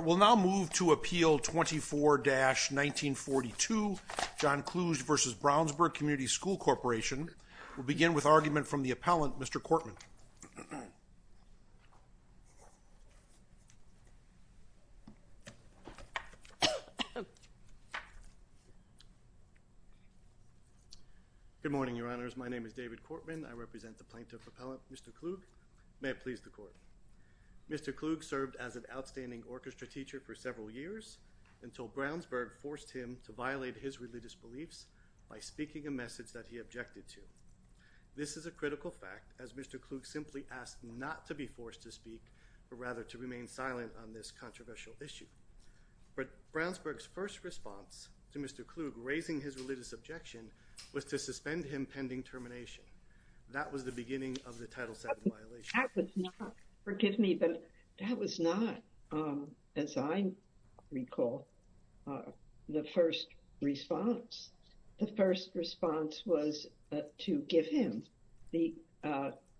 We'll now move to Appeal 24-1942, John Kluge v. Brownsburg Community School Corporation. We'll begin with argument from the appellant, Mr. Cortman. Good morning, Your Honors. My name is David Cortman. I represent the plaintiff appellant, Mr. Kluge. May it please the Court. Mr. Kluge served as an outstanding orchestra teacher for several years until Brownsburg forced him to violate his religious beliefs by speaking a message that he objected to. This is a critical fact, as Mr. Kluge simply asked not to be forced to speak, but rather to remain silent on this controversial issue. But Brownsburg's first response to Mr. Kluge raising his religious objection was to suspend him pending termination. That was the beginning of the Title VII violation. That was not, forgive me, but that was not, as I recall, the first response. The first response was to give him the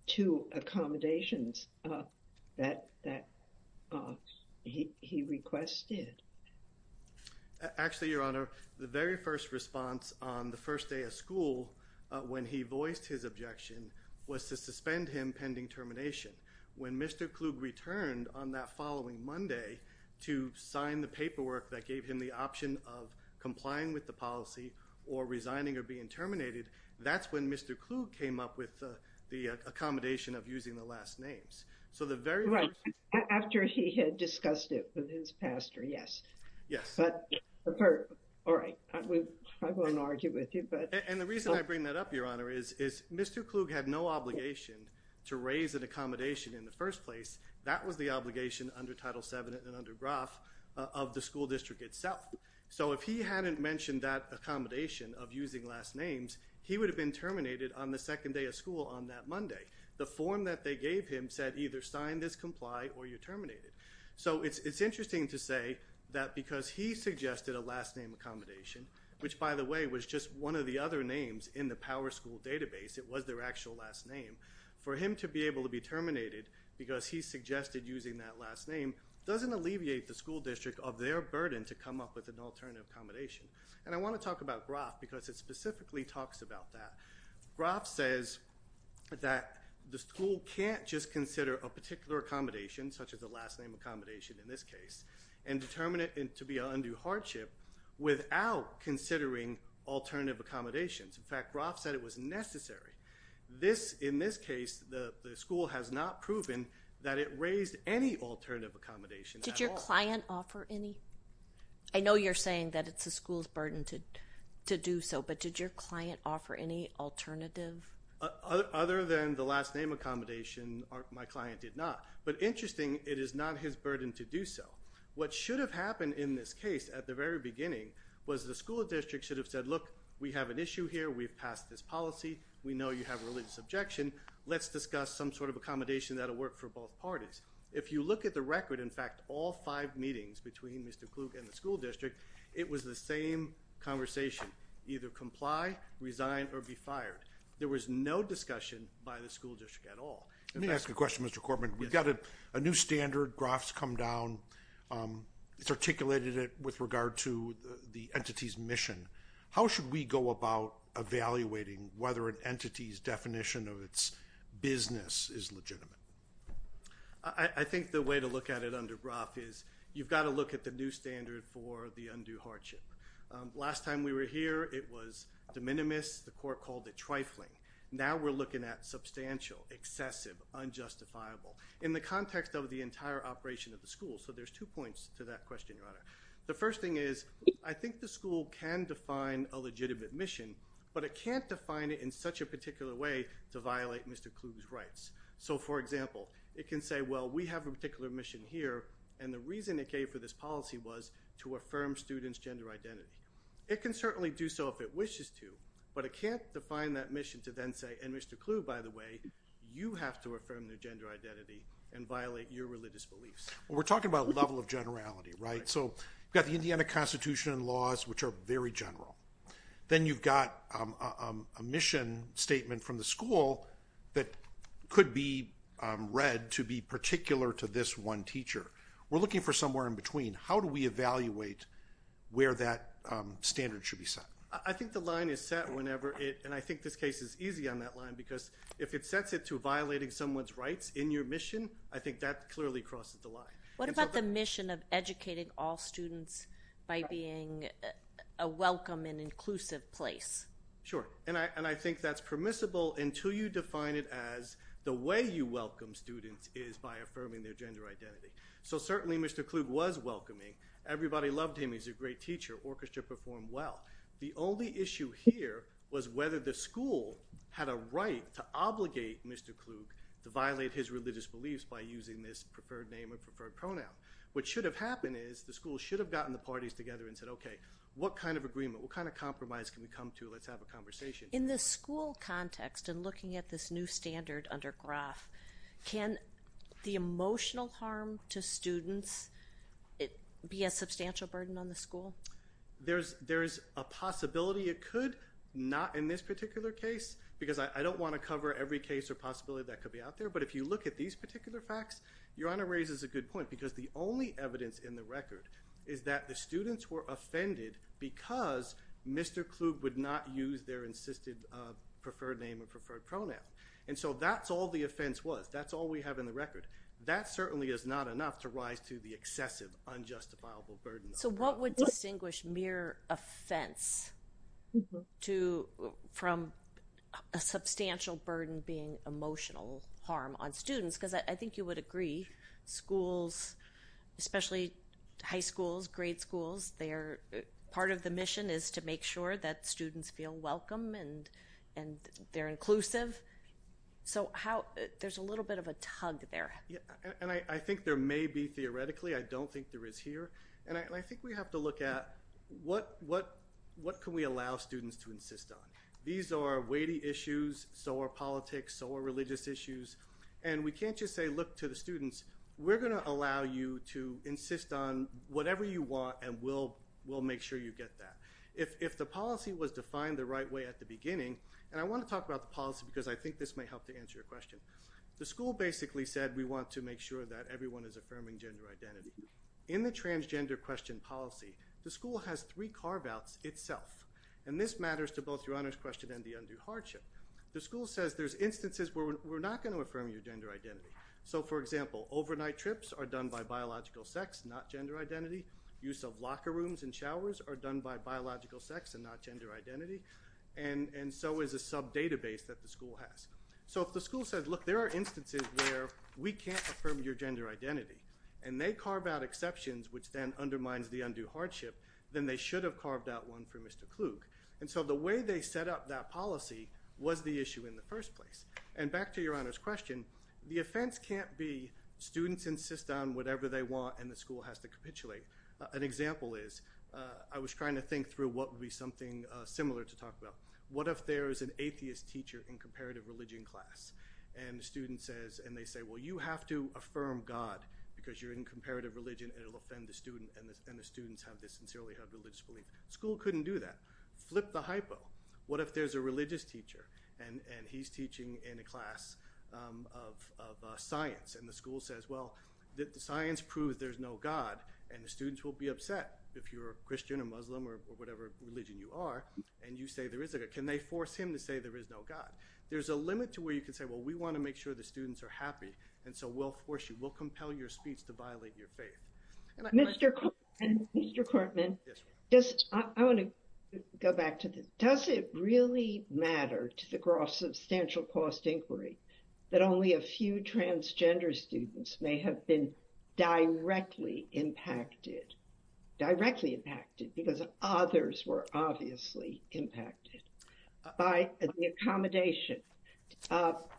two accommodations that he requested. Actually, Your Honor, the very first response on the first day of school, when he voiced his objection, was to suspend him pending termination. When Mr. Kluge returned on that following Monday to sign the paperwork that gave him the option of complying with the policy or resigning or being terminated, that's when Mr. Kluge came up with the accommodation of using the last names. Right. After he had discussed it with his pastor, yes. Yes. All right. I won't argue with you. And the reason I bring that up, Your Honor, is Mr. Kluge had no obligation to raise an accommodation in the first place. That was the obligation under Title VII and under Roth of the school district itself. So if he hadn't mentioned that accommodation of using last names, he would have been terminated on the second day of school on that Monday. The form that they gave him said either sign this, comply, or you're terminated. So it's interesting to say that because he suggested a last name accommodation, which, by the way, was just one of the other names in the PowerSchool database, it was their actual last name, for him to be able to be terminated because he suggested using that last name doesn't alleviate the school district of their burden to come up with an alternative accommodation. And I want to talk about Roth because it specifically talks about that. Roth says that the school can't just consider a particular accommodation, such as a last name accommodation in this case, and determine it to be an undue hardship without considering alternative accommodations. In fact, Roth said it was necessary. In this case, the school has not proven that it raised any alternative accommodation. Did your client offer any? I know you're saying that it's the school's burden to do so, but did your client offer any alternative? Other than the last name accommodation, my client did not. But interesting, it is not his burden to do so. What should have happened in this case at the very beginning was the school district should have said, look, we have an issue here. We've passed this policy. We know you have a religious objection. Let's discuss some sort of accommodation that will work for both parties. If you look at the record, in fact, all five meetings between Mr. Klug and the school district, it was the same conversation. Either comply, resign, or be fired. There was no discussion by the school district at all. Let me ask a question, Mr. Corbett. We've got a new standard. Roth's come down. It's articulated it with regard to the entity's mission. How should we go about evaluating whether an entity's definition of its business is legitimate? I think the way to look at it under Roth is, you've got to look at the new standard for the undue hardship. Last time we were here, it was de minimis. The court called it trifling. Now we're looking at substantial, excessive, unjustifiable. In the context of the entire operation of the school. So there's two points to that question, Your Honor. The first thing is, I think the school can define a legitimate mission, but it can't define it in such a particular way to violate Mr. Klug's rights. So, for example, it can say, well, we have a particular mission here, and the reason it gave for this policy was to affirm students' gender identity. It can certainly do so if it wishes to, but it can't define that mission to then say, and Mr. Klug, by the way, you have to affirm their gender identity and violate your religious beliefs. Well, we're talking about a level of generality, right? So you've got the Indiana Constitution and laws, which are very general. Then you've got a mission statement from the school that could be read to be particular to this one teacher. We're looking for somewhere in between. How do we evaluate where that standard should be set? I think the line is set whenever it, and I think this case is easy on that line because if it sets it to violating someone's rights in your mission, I think that clearly crosses the line. What about the mission of educating all students by being a welcome and inclusive place? Sure, and I think that's permissible until you define it as the way you welcome students is by affirming their gender identity. So certainly Mr. Klug was welcoming. Everybody loved him. He's a great teacher. Orchestra performed well. The only issue here was whether the school had a right to obligate Mr. Klug to violate his religious beliefs by using this preferred name or preferred pronoun. What should have happened is the school should have gotten the parties together and said, okay, what kind of agreement, what kind of compromise can we come to? Let's have a conversation. In the school context and looking at this new standard under Graf, can the emotional harm to students be a substantial burden on the school? There's a possibility it could. Not in this particular case because I don't want to cover every case or possibility that could be out there. But if you look at these particular facts, Your Honor raises a good point because the only evidence in the record is that the students were offended because Mr. Klug would not use their insisted preferred name or preferred pronoun. And so that's all the offense was. That's all we have in the record. That certainly is not enough to rise to the excessive unjustifiable burden. So what would distinguish mere offense from a substantial burden being emotional harm on students? Because I think you would agree schools, especially high schools, grade schools, part of the mission is to make sure that students feel welcome and they're inclusive. So there's a little bit of a tug there. And I think there may be theoretically. I don't think there is here. And I think we have to look at what can we allow students to insist on. These are weighty issues. So are politics. So are religious issues. And we can't just say, look, to the students, we're going to allow you to insist on whatever you want and we'll make sure you get that. If the policy was defined the right way at the beginning, and I want to talk about the policy because I think this may help to answer your question. The school basically said we want to make sure that everyone is affirming gender identity. In the transgender question policy, the school has three carve outs itself. And this matters to both your honors question and the undue hardship. The school says there's instances where we're not going to affirm your gender identity. So, for example, overnight trips are done by biological sex, not gender identity. Use of locker rooms and showers are done by biological sex and not gender identity. And so is a sub database that the school has. So if the school says, look, there are instances where we can't affirm your gender identity, and they carve out exceptions, which then undermines the undue hardship, then they should have carved out one for Mr. Klug. And so the way they set up that policy was the issue in the first place. And back to your honors question, the offense can't be students insist on whatever they want and the school has to capitulate. An example is I was trying to think through what would be something similar to talk about. What if there is an atheist teacher in comparative religion class? And the student says, and they say, well, you have to affirm God because you're in comparative religion and it will offend the student and the students sincerely have religious belief. The school couldn't do that. Flip the hypo. What if there's a religious teacher and he's teaching in a class of science and the school says, well, the science proves there's no God, and the students will be upset if you're a Christian or Muslim or whatever religion you are, and you say there is a God. Can they force him to say there is no God? There's a limit to where you can say, well, we want to make sure the students are happy, and so we'll force you, we'll compel your speech to violate your faith. Mr. Kortman, I want to go back to this. Does it really matter to the gross substantial cost inquiry that only a few transgender students may have been directly impacted, directly impacted because others were obviously impacted by the accommodation?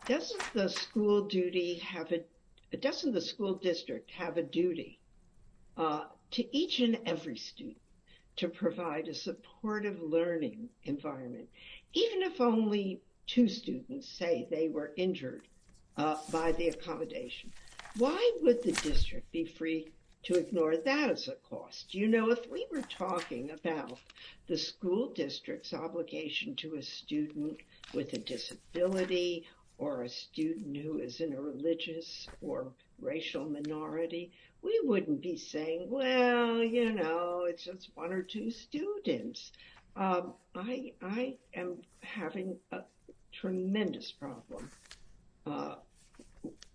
Doesn't the school district have a duty to each and every student to provide a supportive learning environment, even if only two students say they were injured by the accommodation? Why would the district be free to ignore that as a cost? You know, if we were talking about the school district's obligation to a student with a disability or a student who is in a religious or racial minority, we wouldn't be saying, well, you know, it's just one or two students. I am having a tremendous problem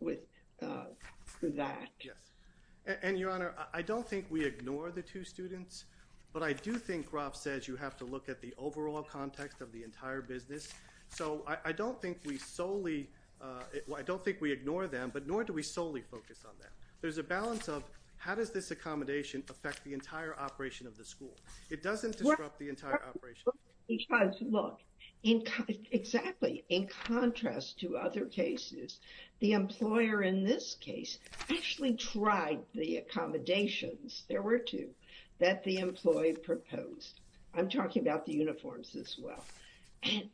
with that. Yes, and Your Honor, I don't think we ignore the two students, but I do think Rob says you have to look at the overall context of the entire business. So I don't think we solely, I don't think we ignore them, but nor do we solely focus on that. There's a balance of how does this accommodation affect the entire operation of the school? It doesn't disrupt the entire operation. Look, exactly. In contrast to other cases, the employer in this case actually tried the accommodations, there were two, that the employee proposed. I'm talking about the uniforms as well,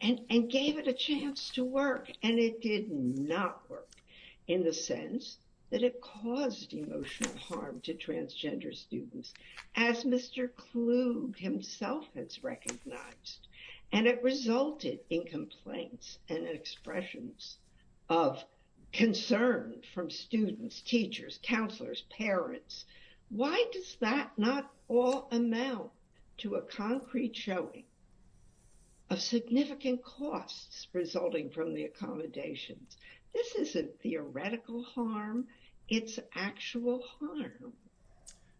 and gave it a chance to work. And it did not work in the sense that it caused emotional harm to transgender students. As Mr. Klug himself has recognized, and it resulted in complaints and expressions of concern from students, teachers, counselors, parents. Why does that not all amount to a concrete showing of significant costs resulting from the accommodations? This isn't theoretical harm, it's actual harm.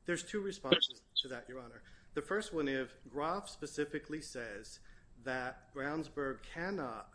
There's two responses to that, Your Honor. The first one is, Groff specifically says that Brownsburg cannot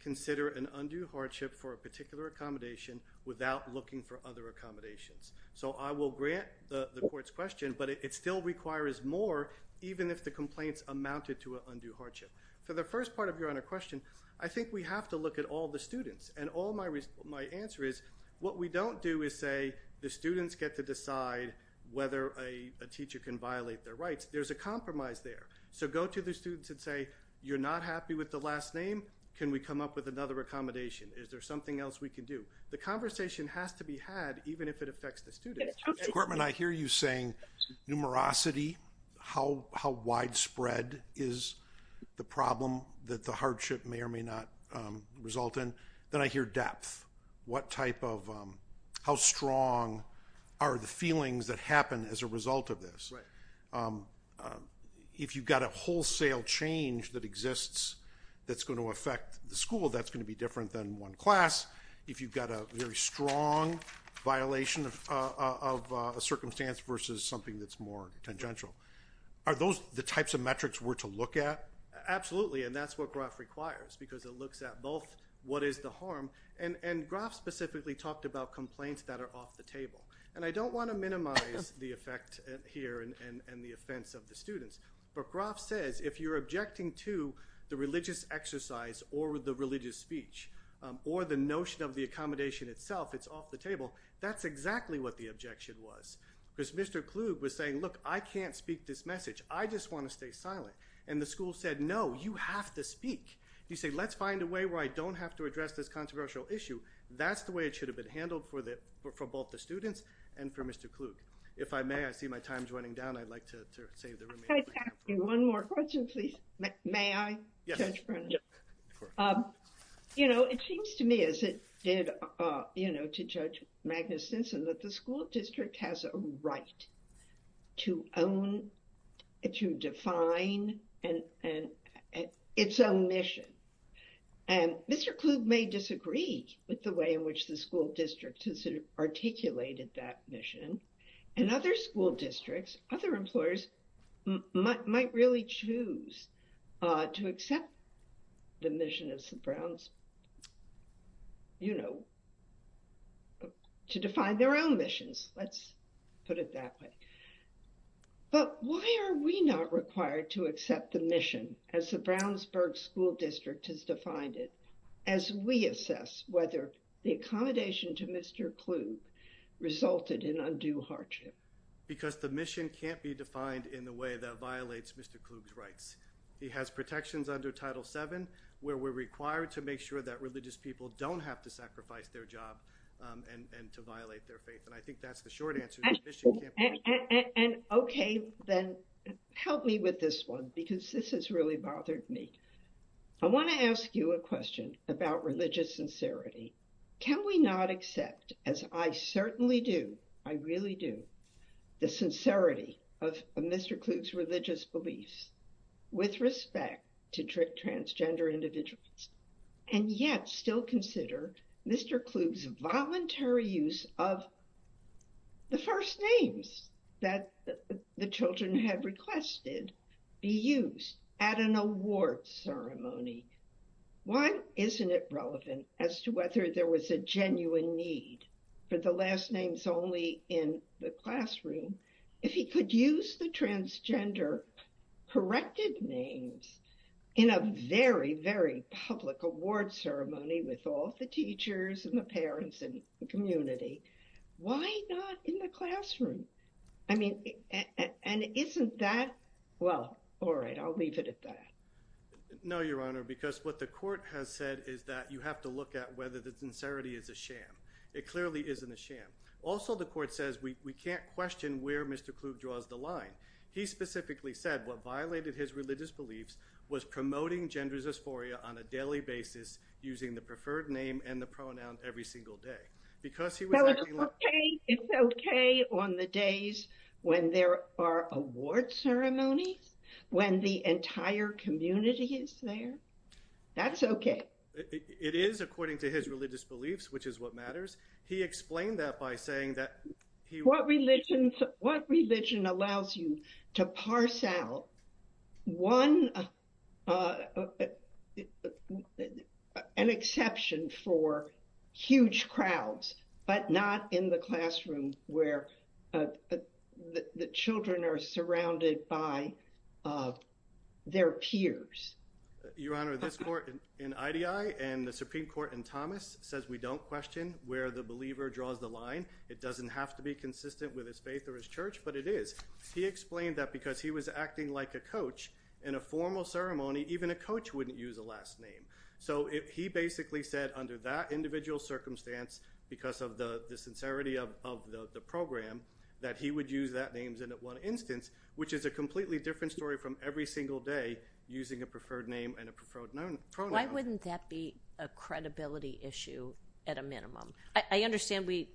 consider an undue hardship for a particular accommodation without looking for other accommodations. So I will grant the court's question, but it still requires more even if the complaints amounted to an undue hardship. For the first part of Your Honor's question, I think we have to look at all the students. And all my answer is, what we don't do is say the students get to decide whether a teacher can violate their rights. There's a compromise there. So go to the students and say, you're not happy with the last name? Can we come up with another accommodation? Is there something else we can do? The conversation has to be had even if it affects the students. Courtman, I hear you saying numerosity, how widespread is the problem that the hardship may or may not result in. Then I hear depth. What type of, how strong are the feelings that happen as a result of this? If you've got a wholesale change that exists that's going to affect the school, that's going to be different than one class. If you've got a very strong violation of a circumstance versus something that's more tangential. Are those the types of metrics we're to look at? And that's what Groff requires because it looks at both what is the harm. And Groff specifically talked about complaints that are off the table. And I don't want to minimize the effect here and the offense of the students. But Groff says if you're objecting to the religious exercise or the religious speech or the notion of the accommodation itself, it's off the table. That's exactly what the objection was. Because Mr. Kluge was saying, look, I can't speak this message. I just want to stay silent. And the school said, no, you have to speak. You say, let's find a way where I don't have to address this controversial issue. That's the way it should have been handled for both the students and for Mr. Kluge. If I may, I see my time's running down. I'd like to save the remaining time. Can I ask you one more question, please? May I? Yes. You know, it seems to me as it did, you know, to Judge Magnus Sensen that the school district has a right to own, to define and its own mission. And Mr. Kluge may disagree with the way in which the school district has articulated that mission. In other school districts, other employers might really choose to accept the mission of St. Brown's, you know, to define their own missions. Let's put it that way. But why are we not required to accept the mission as the Brownsburg school district has defined it as we assess whether the accommodation to Mr. Kluge resulted in undue hardship? Because the mission can't be defined in the way that violates Mr. Kluge's rights. He has protections under Title VII where we're required to make sure that religious people don't have to sacrifice their job and to violate their faith. And I think that's the short answer. And OK, then help me with this one, because this has really bothered me. I want to ask you a question about religious sincerity. Can we not accept, as I certainly do, I really do, the sincerity of Mr. Kluge's religious beliefs with respect to transgender individuals, and yet still consider Mr. Kluge's voluntary use of the first names that the children have requested be used at an award ceremony? Why isn't it relevant as to whether there was a genuine need for the last names only in the classroom? If he could use the transgender corrected names in a very, very public award ceremony with all the teachers and the parents and the community, why not in the classroom? I mean, and isn't that, well, all right, I'll leave it at that. No, Your Honor, because what the court has said is that you have to look at whether the sincerity is a sham. It clearly isn't a sham. Also, the court says we can't question where Mr. Kluge draws the line. He specifically said what violated his religious beliefs was promoting gender dysphoria on a daily basis using the preferred name and the pronoun every single day. It's okay on the days when there are award ceremonies, when the entire community is there. That's okay. It is according to his religious beliefs, which is what matters. He explained that by saying that what religion, what religion allows you to parse out one, an exception for huge crowds, but not in the classroom where the children are surrounded by their peers. Your Honor, this court in IDI and the Supreme Court in Thomas says we don't question where the believer draws the line. It doesn't have to be consistent with his faith or his church, but it is. He explained that because he was acting like a coach in a formal ceremony, even a coach wouldn't use a last name. He basically said under that individual circumstance, because of the sincerity of the program, that he would use that name in one instance, which is a completely different story from every single day using a preferred name and a preferred pronoun. Why wouldn't that be a credibility issue at a minimum? I understand we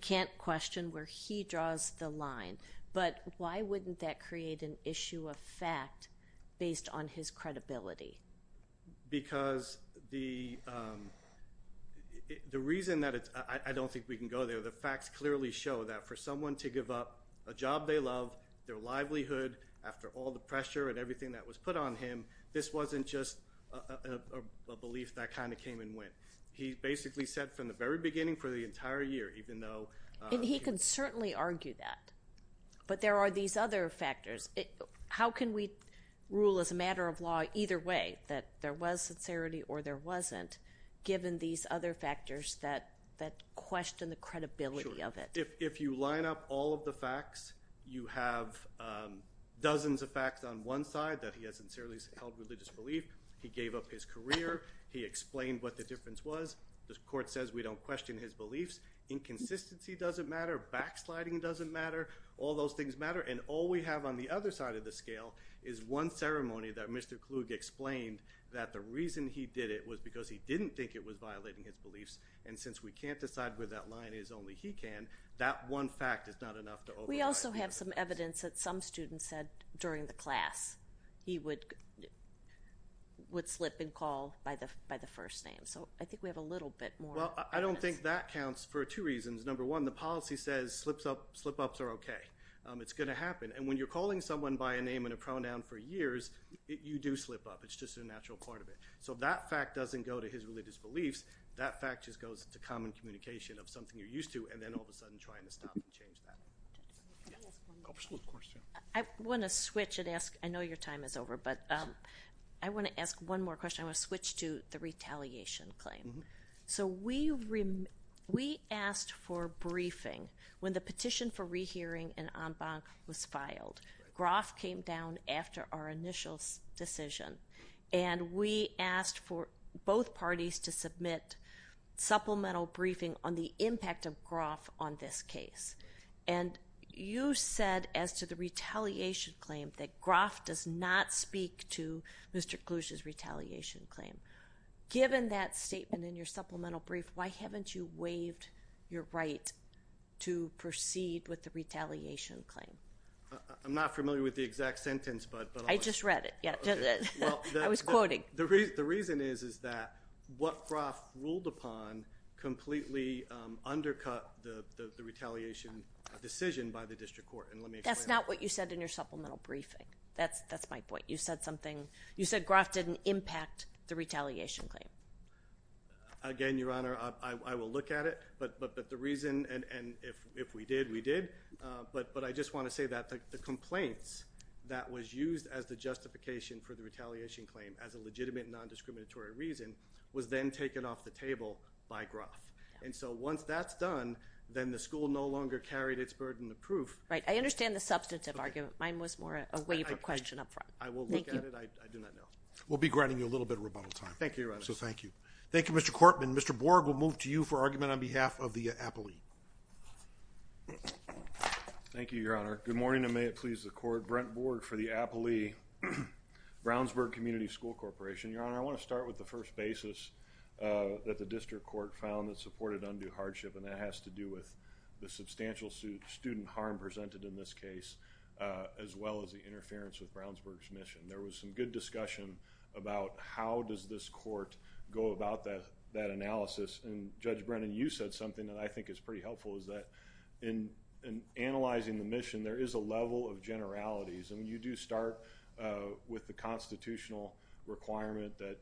can't question where he draws the line, but why wouldn't that create an issue of fact based on his credibility? Because the reason that it's – I don't think we can go there. The facts clearly show that for someone to give up a job they love, their livelihood, after all the pressure and everything that was put on him, this wasn't just a belief that kind of came and went. He basically said from the very beginning for the entire year, even though – He can certainly argue that, but there are these other factors. How can we rule as a matter of law either way that there was sincerity or there wasn't given these other factors that question the credibility of it? If you line up all of the facts, you have dozens of facts on one side that he has sincerely held religious belief. He gave up his career. He explained what the difference was. The court says we don't question his beliefs. Inconsistency doesn't matter. Backsliding doesn't matter. All those things matter. And all we have on the other side of the scale is one ceremony that Mr. Kluge explained that the reason he did it was because he didn't think it was violating his beliefs. And since we can't decide where that line is, only he can, that one fact is not enough to override – We also have some evidence that some students said during the class he would slip and call by the first name. So I think we have a little bit more evidence. Well, I don't think that counts for two reasons. Number one, the policy says slip-ups are okay. It's going to happen. And when you're calling someone by a name and a pronoun for years, you do slip up. It's just a natural part of it. So that fact doesn't go to his religious beliefs. That fact just goes to common communication of something you're used to and then all of a sudden trying to stop and change that. Can I ask one optional question? I want to switch and ask – I know your time is over, but I want to ask one more question. I want to switch to the retaliation claim. So we asked for briefing when the petition for rehearing and en banc was filed. Groff came down after our initial decision. And we asked for both parties to submit supplemental briefing on the impact of Groff on this case. And you said as to the retaliation claim that Groff does not speak to Mr. Kluge's retaliation claim. Given that statement in your supplemental brief, why haven't you waived your right to proceed with the retaliation claim? I'm not familiar with the exact sentence. I just read it. I was quoting. The reason is that what Groff ruled upon completely undercut the retaliation decision by the district court. And let me explain. That's not what you said in your supplemental briefing. That's my point. You said something – you said Groff didn't impact the retaliation claim. Again, Your Honor, I will look at it. But the reason – and if we did, we did. But I just want to say that the complaints that was used as the justification for the retaliation claim as a legitimate, non-discriminatory reason was then taken off the table by Groff. And so once that's done, then the school no longer carried its burden of proof. Right. I understand the substantive argument. Mine was more a waiver question up front. I will look at it. I do not know. We'll be granting you a little bit of rebuttal time. Thank you, Your Honor. So thank you. Thank you, Mr. Cortman. Mr. Borg, we'll move to you for argument on behalf of the appellee. Thank you, Your Honor. Good morning, and may it please the Court. Brent Borg for the appellee, Brownsburg Community School Corporation. Your Honor, I want to start with the first basis that the district court found that supported undue hardship, and that has to do with the substantial student harm presented in this case, as well as the interference with Brownsburg's mission. There was some good discussion about how does this court go about that analysis, and Judge Brennan, you said something that I think is pretty helpful, is that in analyzing the mission, there is a level of generalities, and when you do start with the constitutional requirement that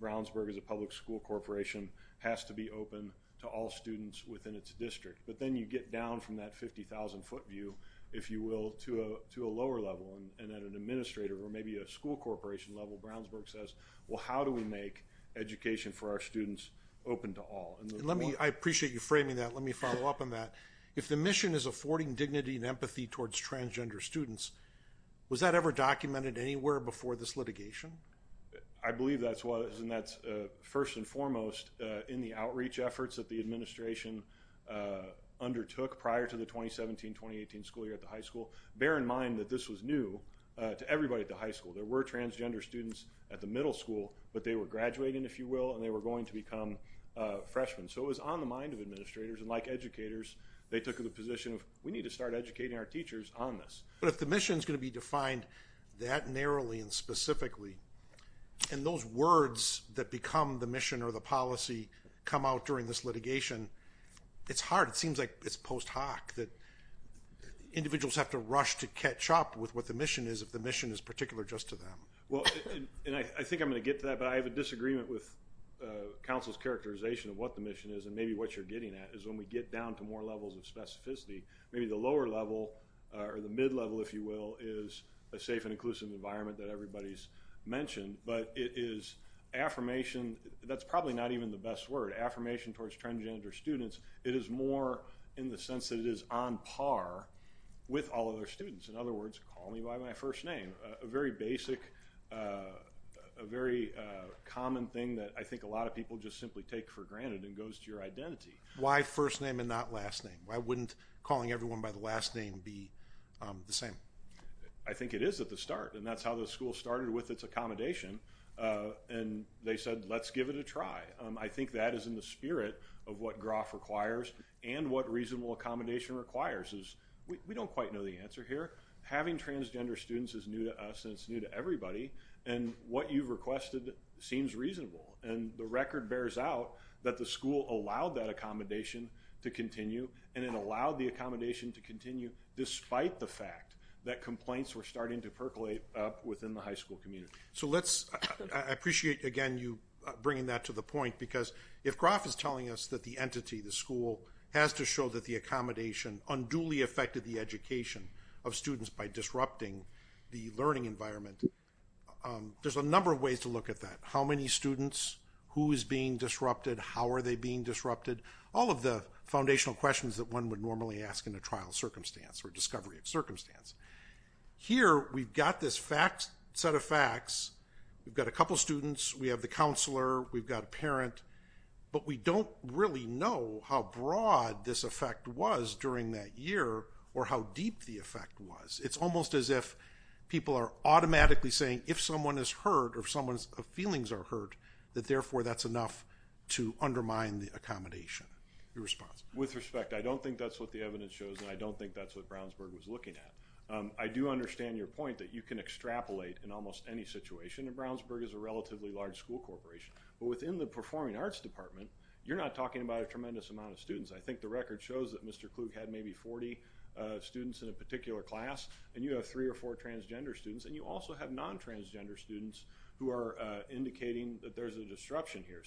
Brownsburg as a public school corporation has to be open to all students within its district, but then you get down from that 50,000-foot view, if you will, to a lower level, and at an administrator or maybe a school corporation level, Brownsburg says, well, how do we make education for our students open to all? I appreciate you framing that. Let me follow up on that. If the mission is affording dignity and empathy towards transgender students, was that ever documented anywhere before this litigation? I believe that was, and that's first and foremost in the outreach efforts that the administration undertook prior to the 2017-2018 school year at the high school. Bear in mind that this was new to everybody at the high school. There were transgender students at the middle school, but they were graduating, if you will, and they were going to become freshmen. So it was on the mind of administrators, and like educators, they took the position of we need to start educating our teachers on this. But if the mission is going to be defined that narrowly and specifically, and those words that become the mission or the policy come out during this litigation, it's hard. It seems like it's post hoc that individuals have to rush to catch up with what the mission is if the mission is particular just to them. Well, and I think I'm going to get to that, but I have a disagreement with counsel's characterization of what the mission is and maybe what you're getting at is when we get down to more levels of specificity, maybe the lower level or the mid-level, if you will, is a safe and inclusive environment that everybody's mentioned, but it is affirmation. That's probably not even the best word, affirmation towards transgender students. It is more in the sense that it is on par with all other students. In other words, call me by my first name, a very basic, a very common thing that I think a lot of people just simply take for granted and goes to your identity. Why first name and not last name? Why wouldn't calling everyone by the last name be the same? I think it is at the start, and that's how the school started with its accommodation, and they said let's give it a try. I think that is in the spirit of what Groff requires and what reasonable accommodation requires is we don't quite know the answer here. Having transgender students is new to us and it's new to everybody, and what you've requested seems reasonable, and the record bears out that the school allowed that accommodation to continue and it allowed the accommodation to continue despite the fact that complaints were starting to percolate up within the high school community. I appreciate, again, you bringing that to the point because if Groff is telling us that the entity, the school, has to show that the accommodation unduly affected the education of students by disrupting the learning environment, there's a number of ways to look at that. How many students? Who is being disrupted? How are they being disrupted? All of the foundational questions that one would normally ask in a trial circumstance or discovery of circumstance. Here we've got this set of facts. We've got a couple students. We have the counselor. We've got a parent. But we don't really know how broad this effect was during that year or how deep the effect was. It's almost as if people are automatically saying if someone is hurt or if someone's feelings are hurt, that therefore that's enough to undermine the accommodation. Your response? With respect, I don't think that's what the evidence shows, and I don't think that's what Brownsburg was looking at. I do understand your point that you can extrapolate in almost any situation, and Brownsburg is a relatively large school corporation. But within the Performing Arts Department, you're not talking about a tremendous amount of students. I think the record shows that Mr. Klug had maybe 40 students in a particular class, and you have three or four transgender students, and you also have non-transgender students who are indicating that there's a disruption here.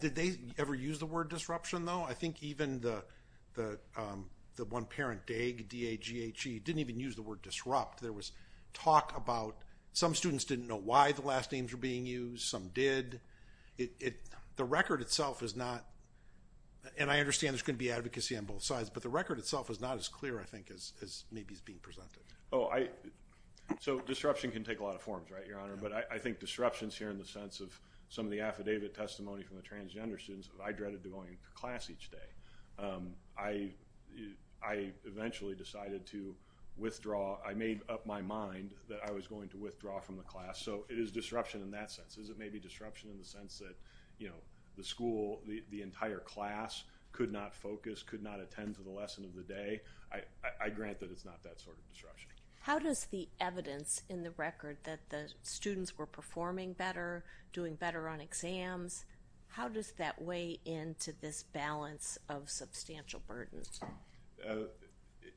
Did they ever use the word disruption, though? I think even the one parent, Daghe, D-A-G-H-E, didn't even use the word disrupt. There was talk about some students didn't know why the last names were being used. Some did. The record itself is not, and I understand there's going to be advocacy on both sides, but the record itself is not as clear, I think, as maybe is being presented. So disruption can take a lot of forms, right, Your Honor? But I think disruptions here in the sense of some of the affidavit testimony from the transgender students, I dreaded going to class each day. I eventually decided to withdraw. I made up my mind that I was going to withdraw from the class. So it is disruption in that sense. Is it maybe disruption in the sense that, you know, the school, the entire class could not focus, could not attend to the lesson of the day? I grant that it's not that sort of disruption. How does the evidence in the record that the students were performing better, doing better on exams, how does that weigh into this balance of substantial burden?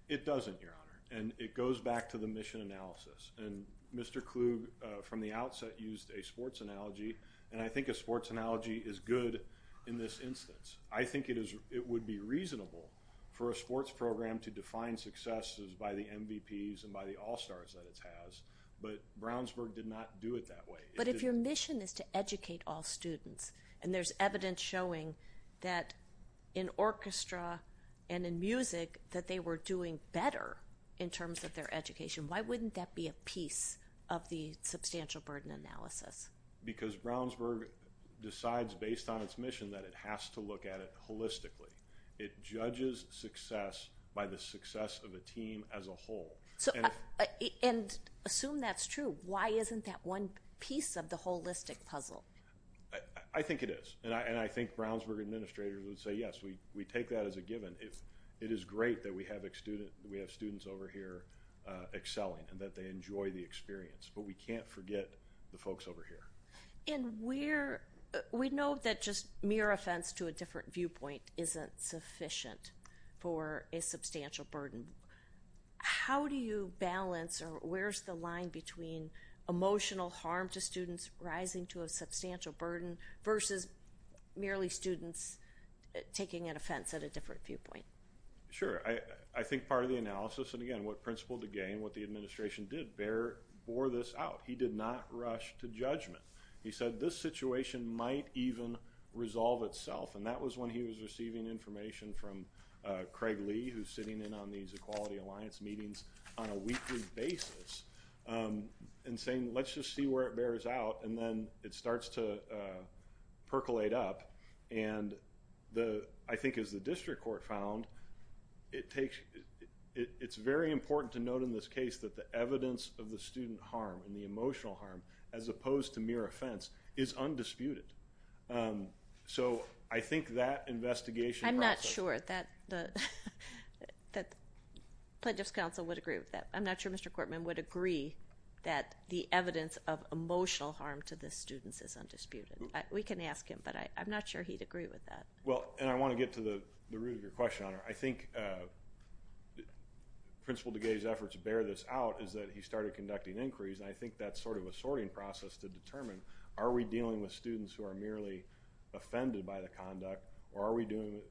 It doesn't, Your Honor, and it goes back to the mission analysis. And Mr. Klug, from the outset, used a sports analogy, and I think a sports analogy is good in this instance. I think it would be reasonable for a sports program to define success by the MVPs and by the All-Stars that it has, but Brownsburg did not do it that way. But if your mission is to educate all students, and there's evidence showing that in orchestra and in music that they were doing better in terms of their education, why wouldn't that be a piece of the substantial burden analysis? Because Brownsburg decides based on its mission that it has to look at it holistically. It judges success by the success of the team as a whole. And assume that's true, why isn't that one piece of the holistic puzzle? I think it is, and I think Brownsburg administrators would say yes, we take that as a given. It is great that we have students over here excelling and that they enjoy the experience. But we can't forget the folks over here. We know that just mere offense to a different viewpoint isn't sufficient for a substantial burden. How do you balance or where's the line between emotional harm to students rising to a substantial burden versus merely students taking an offense at a different viewpoint? Sure. I think part of the analysis, and again, what principle to gain, what the administration did, bore this out. He did not rush to judgment. He said this situation might even resolve itself, and that was when he was receiving information from Craig Lee, who's sitting in on these Equality Alliance meetings on a weekly basis, and saying let's just see where it bears out, and then it starts to percolate up. And I think as the district court found, it's very important to note in this case that the evidence of the student harm and the emotional harm, as opposed to mere offense, is undisputed. So I think that investigation process. I'm not sure that the Plaintiff's Counsel would agree with that. I'm not sure Mr. Cortman would agree that the evidence of emotional harm to the students is undisputed. We can ask him, but I'm not sure he'd agree with that. Well, and I want to get to the root of your question, Honor. I think principle to gain's effort to bear this out is that he started conducting inquiries, and I think that's sort of a sorting process to determine, are we dealing with students who are merely offended by the conduct, or are we dealing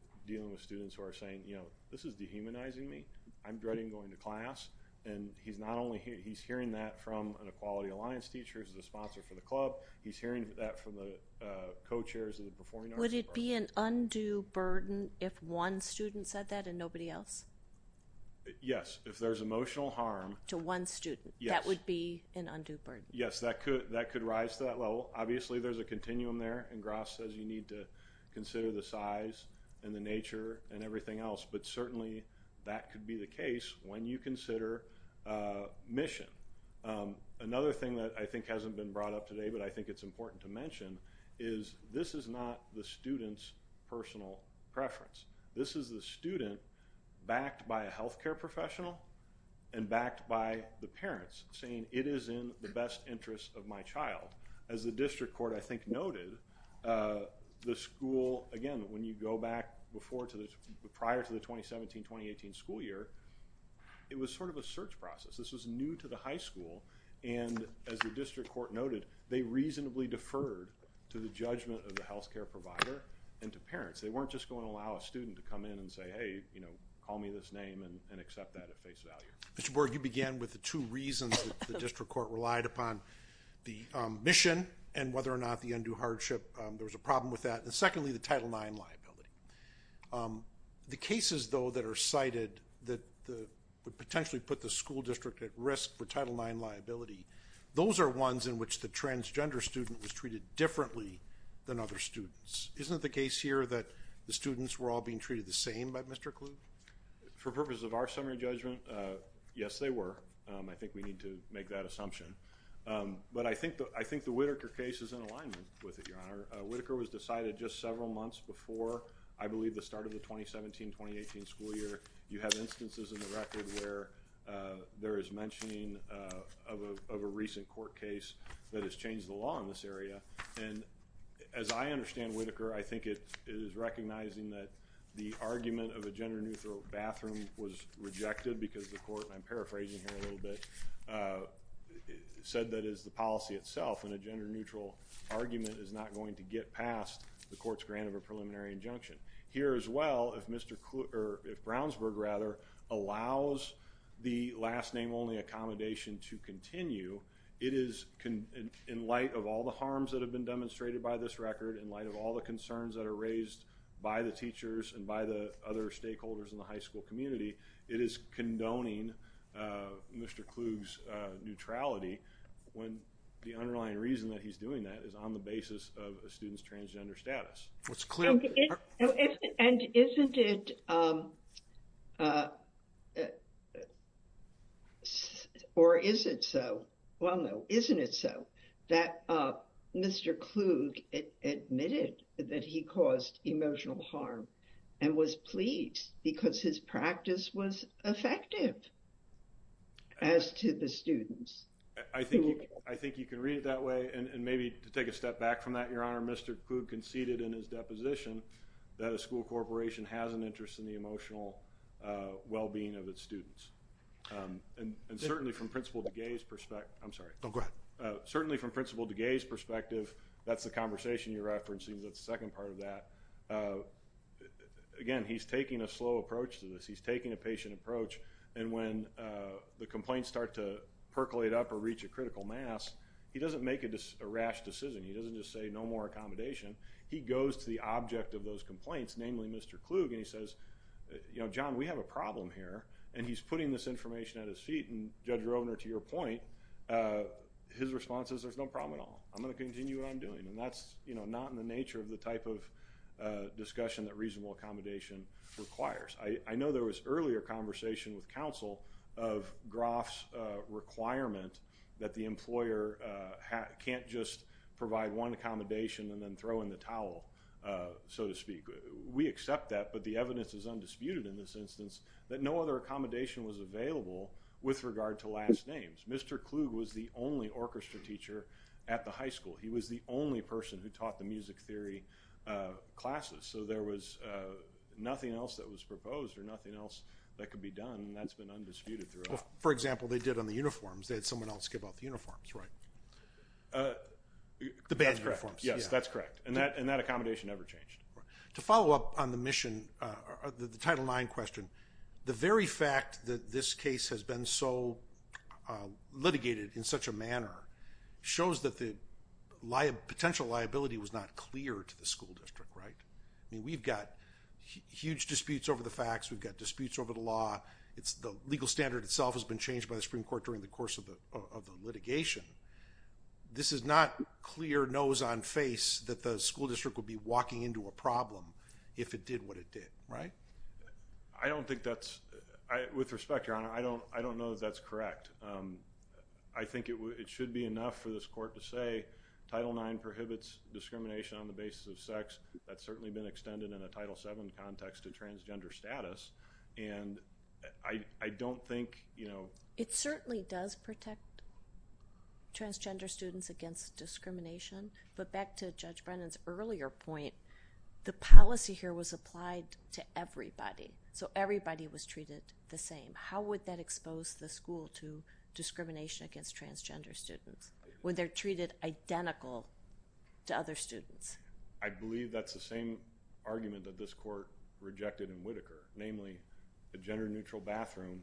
with students who are saying, you know, this is dehumanizing me. I'm dreading going to class. And he's hearing that from an Equality Alliance teacher who's a sponsor for the club. He's hearing that from the co-chairs of the Performing Arts Club. Would it be an undue burden if one student said that and nobody else? Yes. If there's emotional harm to one student, that would be an undue burden. Yes, that could rise to that level. Obviously there's a continuum there, and Gras says you need to consider the size and the nature and everything else. But certainly that could be the case when you consider mission. Another thing that I think hasn't been brought up today, but I think it's important to mention, is this is not the student's personal preference. This is the student backed by a health care professional and backed by the parents saying it is in the best interest of my child. As the district court I think noted, the school, again, when you go back prior to the 2017-2018 school year, it was sort of a search process. This was new to the high school, and as the district court noted, they reasonably deferred to the judgment of the health care provider and to parents. They weren't just going to allow a student to come in and say, hey, call me this name and accept that at face value. Mr. Borg, you began with the two reasons that the district court relied upon, the mission and whether or not the undue hardship, there was a problem with that. And secondly, the Title IX liability. The cases, though, that are cited that would potentially put the school district at risk for Title IX liability, those are ones in which the transgender student was treated differently than other students. Isn't it the case here that the students were all being treated the same by Mr. Kluge? For purpose of our summary judgment, yes, they were. I think we need to make that assumption. But I think the Whitaker case is in alignment with it, Your Honor. Whitaker was decided just several months before, I believe, the start of the 2017-2018 school year. You have instances in the record where there is mentioning of a recent court case that has changed the law in this area. And as I understand Whitaker, I think it is recognizing that the argument of a gender-neutral bathroom was rejected because the court, and I'm paraphrasing here a little bit, said that is the policy itself, and a gender-neutral argument is not going to get past the court's grant of a preliminary injunction. Here as well, if Mr. Kluge, or if Brownsburg, rather, allows the last name only accommodation to continue, it is, in light of all the harms that have been demonstrated by this record, in light of all the concerns that are raised by the teachers and by the other stakeholders in the high school community, it is condoning Mr. Kluge's neutrality when the underlying reason that he's doing that is on the basis of a student's transgender status. And isn't it, or is it so, well, no, isn't it so, that Mr. Kluge admitted that he caused emotional harm and was pleased because his practice was effective as to the students? I think you can read it that way, and maybe to take a step back from that, Your Honor, Mr. Kluge conceded in his deposition that a school corporation has an interest in the emotional well-being of its students. And certainly from Principal DeGay's perspective, that's the conversation you're referencing, that's the second part of that, again, he's taking a slow approach to this. He's taking a patient approach, and when the complaints start to percolate up or reach a critical mass, he doesn't make a rash decision. He doesn't just say, no more accommodation. He goes to the object of those complaints, namely Mr. Kluge, and he says, you know, John, we have a problem here. And he's putting this information at his feet, and Judge Rovner, to your point, his response is, there's no problem at all. I'm going to continue what I'm doing. And that's not in the nature of the type of discussion that reasonable accommodation requires. I know there was earlier conversation with counsel of Groff's requirement that the employer can't just provide one accommodation and then throw in the towel, so to speak. We accept that, but the evidence is undisputed in this instance that no other accommodation was available with regard to last names. Mr. Kluge was the only orchestra teacher at the high school. He was the only person who taught the music theory classes, so there was nothing else that was proposed or nothing else that could be done, and that's been undisputed throughout. For example, they did on the uniforms. They had someone else give out the uniforms, right? The band uniforms. Yes, that's correct. And that accommodation never changed. To follow up on the mission, the Title IX question, the very fact that this case has been so litigated in such a manner shows that the potential liability was not clear to the school district, right? I mean, we've got huge disputes over the facts. We've got disputes over the law. The legal standard itself has been changed by the Supreme Court during the course of the litigation. This is not clear nose on face that the school district would be walking into a problem if it did what it did, right? I don't think that's, with respect, Your Honor, I don't know that that's correct. I think it should be enough for this court to say Title IX prohibits discrimination on the basis of sex. That's certainly been extended in a Title VII context to transgender status, and I don't think, you know... It certainly does protect transgender students against discrimination, but back to Judge Brennan's earlier point, the policy here was applied to everybody, so everybody was treated the same. How would that expose the school to discrimination against transgender students when they're treated identical to other students? I believe that's the same argument that this court rejected in Whitaker. Namely, a gender-neutral bathroom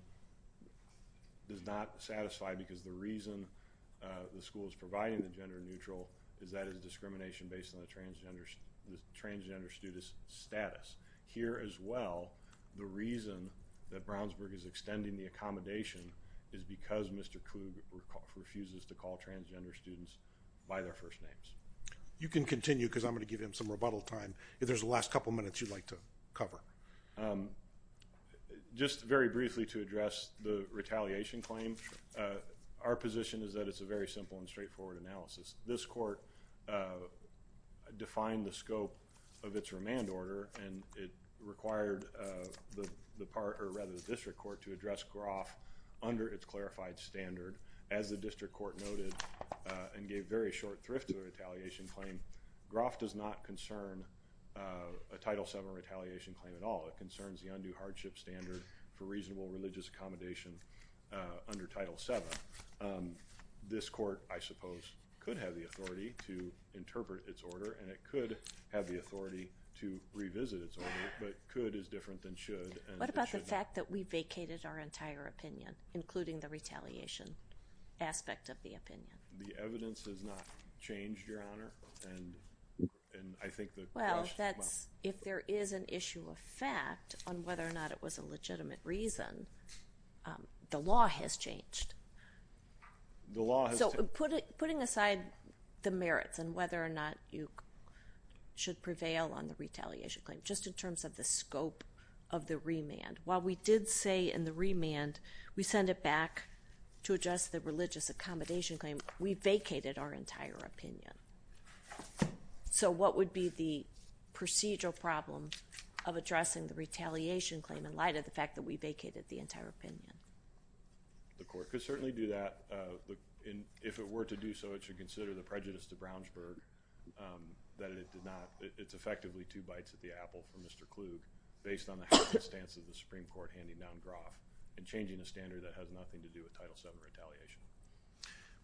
does not satisfy because the reason the school is providing the gender-neutral is that it's discrimination based on the transgender student's status. Here as well, the reason that Brownsburg is extending the accommodation is because Mr. Coog refuses to call transgender students by their first names. You can continue, because I'm going to give him some rebuttal time if there's a last couple minutes you'd like to cover. Just very briefly to address the retaliation claim, our position is that it's a very simple and straightforward analysis. This court defined the scope of its remand order, and it required the district court to address Groff under its clarified standard, as the district court noted, and gave very short thrift to the retaliation claim. Groff does not concern a Title VII retaliation claim at all. It concerns the undue hardship standard for reasonable religious accommodation under Title VII. This court, I suppose, could have the authority to interpret its order, and it could have the authority to revisit its order, but could is different than should. What about the fact that we vacated our entire opinion, including the retaliation aspect of the opinion? The evidence has not changed, Your Honor, and I think that... Well, if there is an issue of fact on whether or not it was a legitimate reason, the law has changed. The law has... So putting aside the merits and whether or not you should prevail on the retaliation claim, just in terms of the scope of the remand, while we did say in the remand we send it back to address the religious accommodation claim, we vacated our entire opinion. So what would be the procedural problem of addressing the retaliation claim in light of the fact that we vacated the entire opinion? The court could certainly do that, and if it were to do so, it should consider the prejudice to Brownsburg that it did not... It's effectively two bites at the apple for Mr. Kluge based on the happy stance of the Supreme Court and changing the standard that has nothing to do with Title VII retaliation.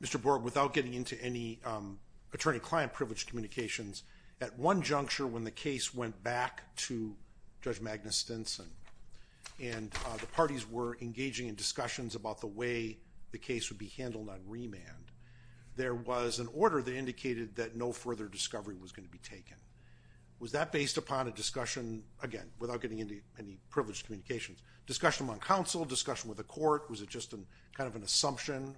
Mr. Borg, without getting into any attorney-client privileged communications, at one juncture when the case went back to Judge Magnus Stinson and the parties were engaging in discussions about the way the case would be handled on remand, there was an order that indicated that no further discovery was going to be taken. Was that based upon a discussion, again, without getting into any privileged communications, discussion among counsel, discussion with the court? Was it just kind of an assumption?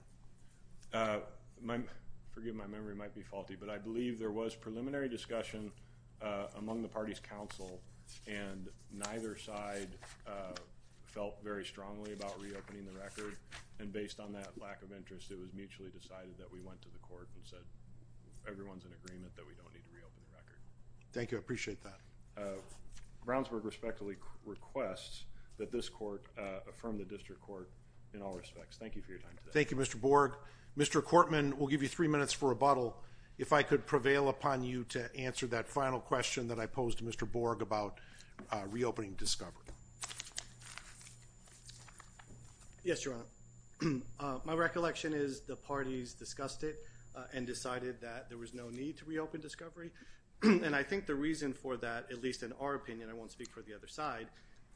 Forgive me, my memory might be faulty, but I believe there was preliminary discussion among the parties' counsel, and neither side felt very strongly about reopening the record, and based on that lack of interest, it was mutually decided that we went to the court and said everyone's in agreement that we don't need to reopen the record. Thank you. I appreciate that. Brownsburg respectfully requests that this court affirm the district court in all respects. Thank you for your time today. Thank you, Mr. Borg. Mr. Cortman, we'll give you three minutes for rebuttal. If I could prevail upon you to answer that final question that I posed to Mr. Borg about reopening discovery. Yes, Your Honor. My recollection is the parties discussed it and decided that there was no need to reopen discovery, and I think the reason for that, at least in our opinion, I won't speak for the other side,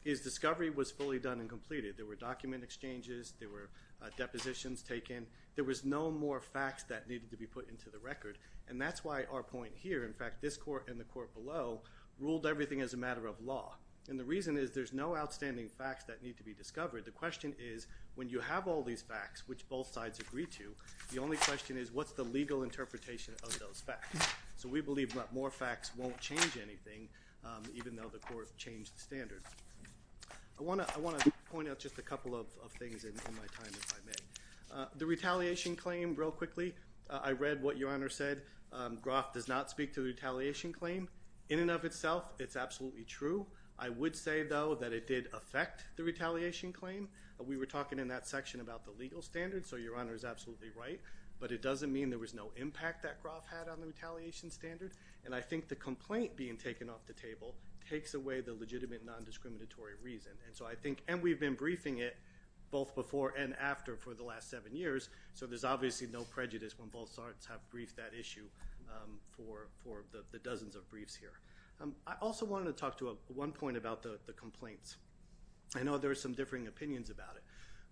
is discovery was fully done and completed. There were document exchanges. There were depositions taken. There was no more facts that needed to be put into the record, and that's why our point here, in fact, this court and the court below ruled everything as a matter of law, and the reason is there's no outstanding facts that need to be discovered. The question is when you have all these facts, which both sides agree to, the only question is what's the legal interpretation of those facts, so we believe that more facts won't change anything even though the court changed standards. I want to point out just a couple of things in my time, if I may. The retaliation claim, real quickly, I read what Your Honor said. Groff does not speak to the retaliation claim. In and of itself, it's absolutely true. I would say, though, that it did affect the retaliation claim. We were talking in that section about the legal standard, so Your Honor is absolutely right, but it doesn't mean there was no impact that Groff had on the retaliation standard, and I think the complaint being taken off the table takes away the legitimate non-discriminatory reason, and so I think, and we've been briefing it both before and after for the last seven years, so there's obviously no prejudice when both sides have briefed that issue for the dozens of briefs here. I also wanted to talk to one point about the complaints. I know there are some differing opinions about it.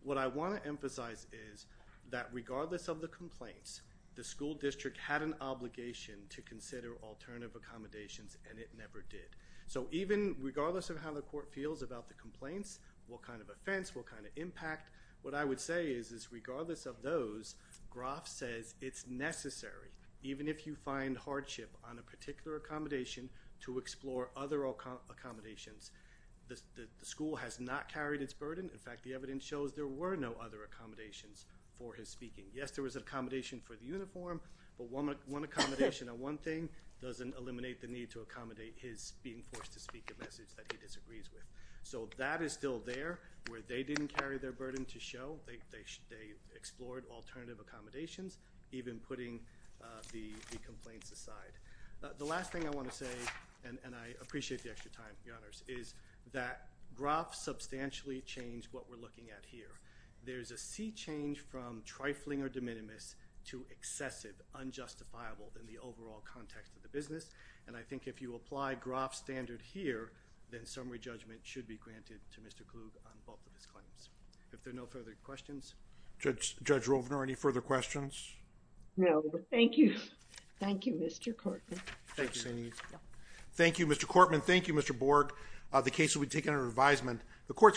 What I want to emphasize is that regardless of the complaints, the school district had an obligation to consider alternative accommodations, and it never did. So even regardless of how the court feels about the complaints, what kind of offense, what kind of impact, what I would say is, is regardless of those, Groff says it's necessary, even if you find hardship on a particular accommodation, to explore other accommodations. The school has not carried its burden. In fact, the evidence shows there were no other accommodations for his speaking. Yes, there was an accommodation for the uniform, but one accommodation on one thing doesn't eliminate the need to accommodate his being forced to speak a message that he disagrees with. So that is still there where they didn't carry their burden to show. They explored alternative accommodations, even putting the complaints aside. The last thing I want to say, and I appreciate the extra time, Your Honors, is that Groff substantially changed what we're looking at here. There's a sea change from trifling or de minimis to excessive, unjustifiable in the overall context of the business, and I think if you apply Groff's standard here, then summary judgment should be granted to Mr. Kruge on both of his claims. If there are no further questions. Judge Rovner, any further questions? No, but thank you. Thank you, Mr. Kortman. Thank you. Thank you, Mr. Kortman. Thank you, Mr. Borg. The case will be taken under advisement.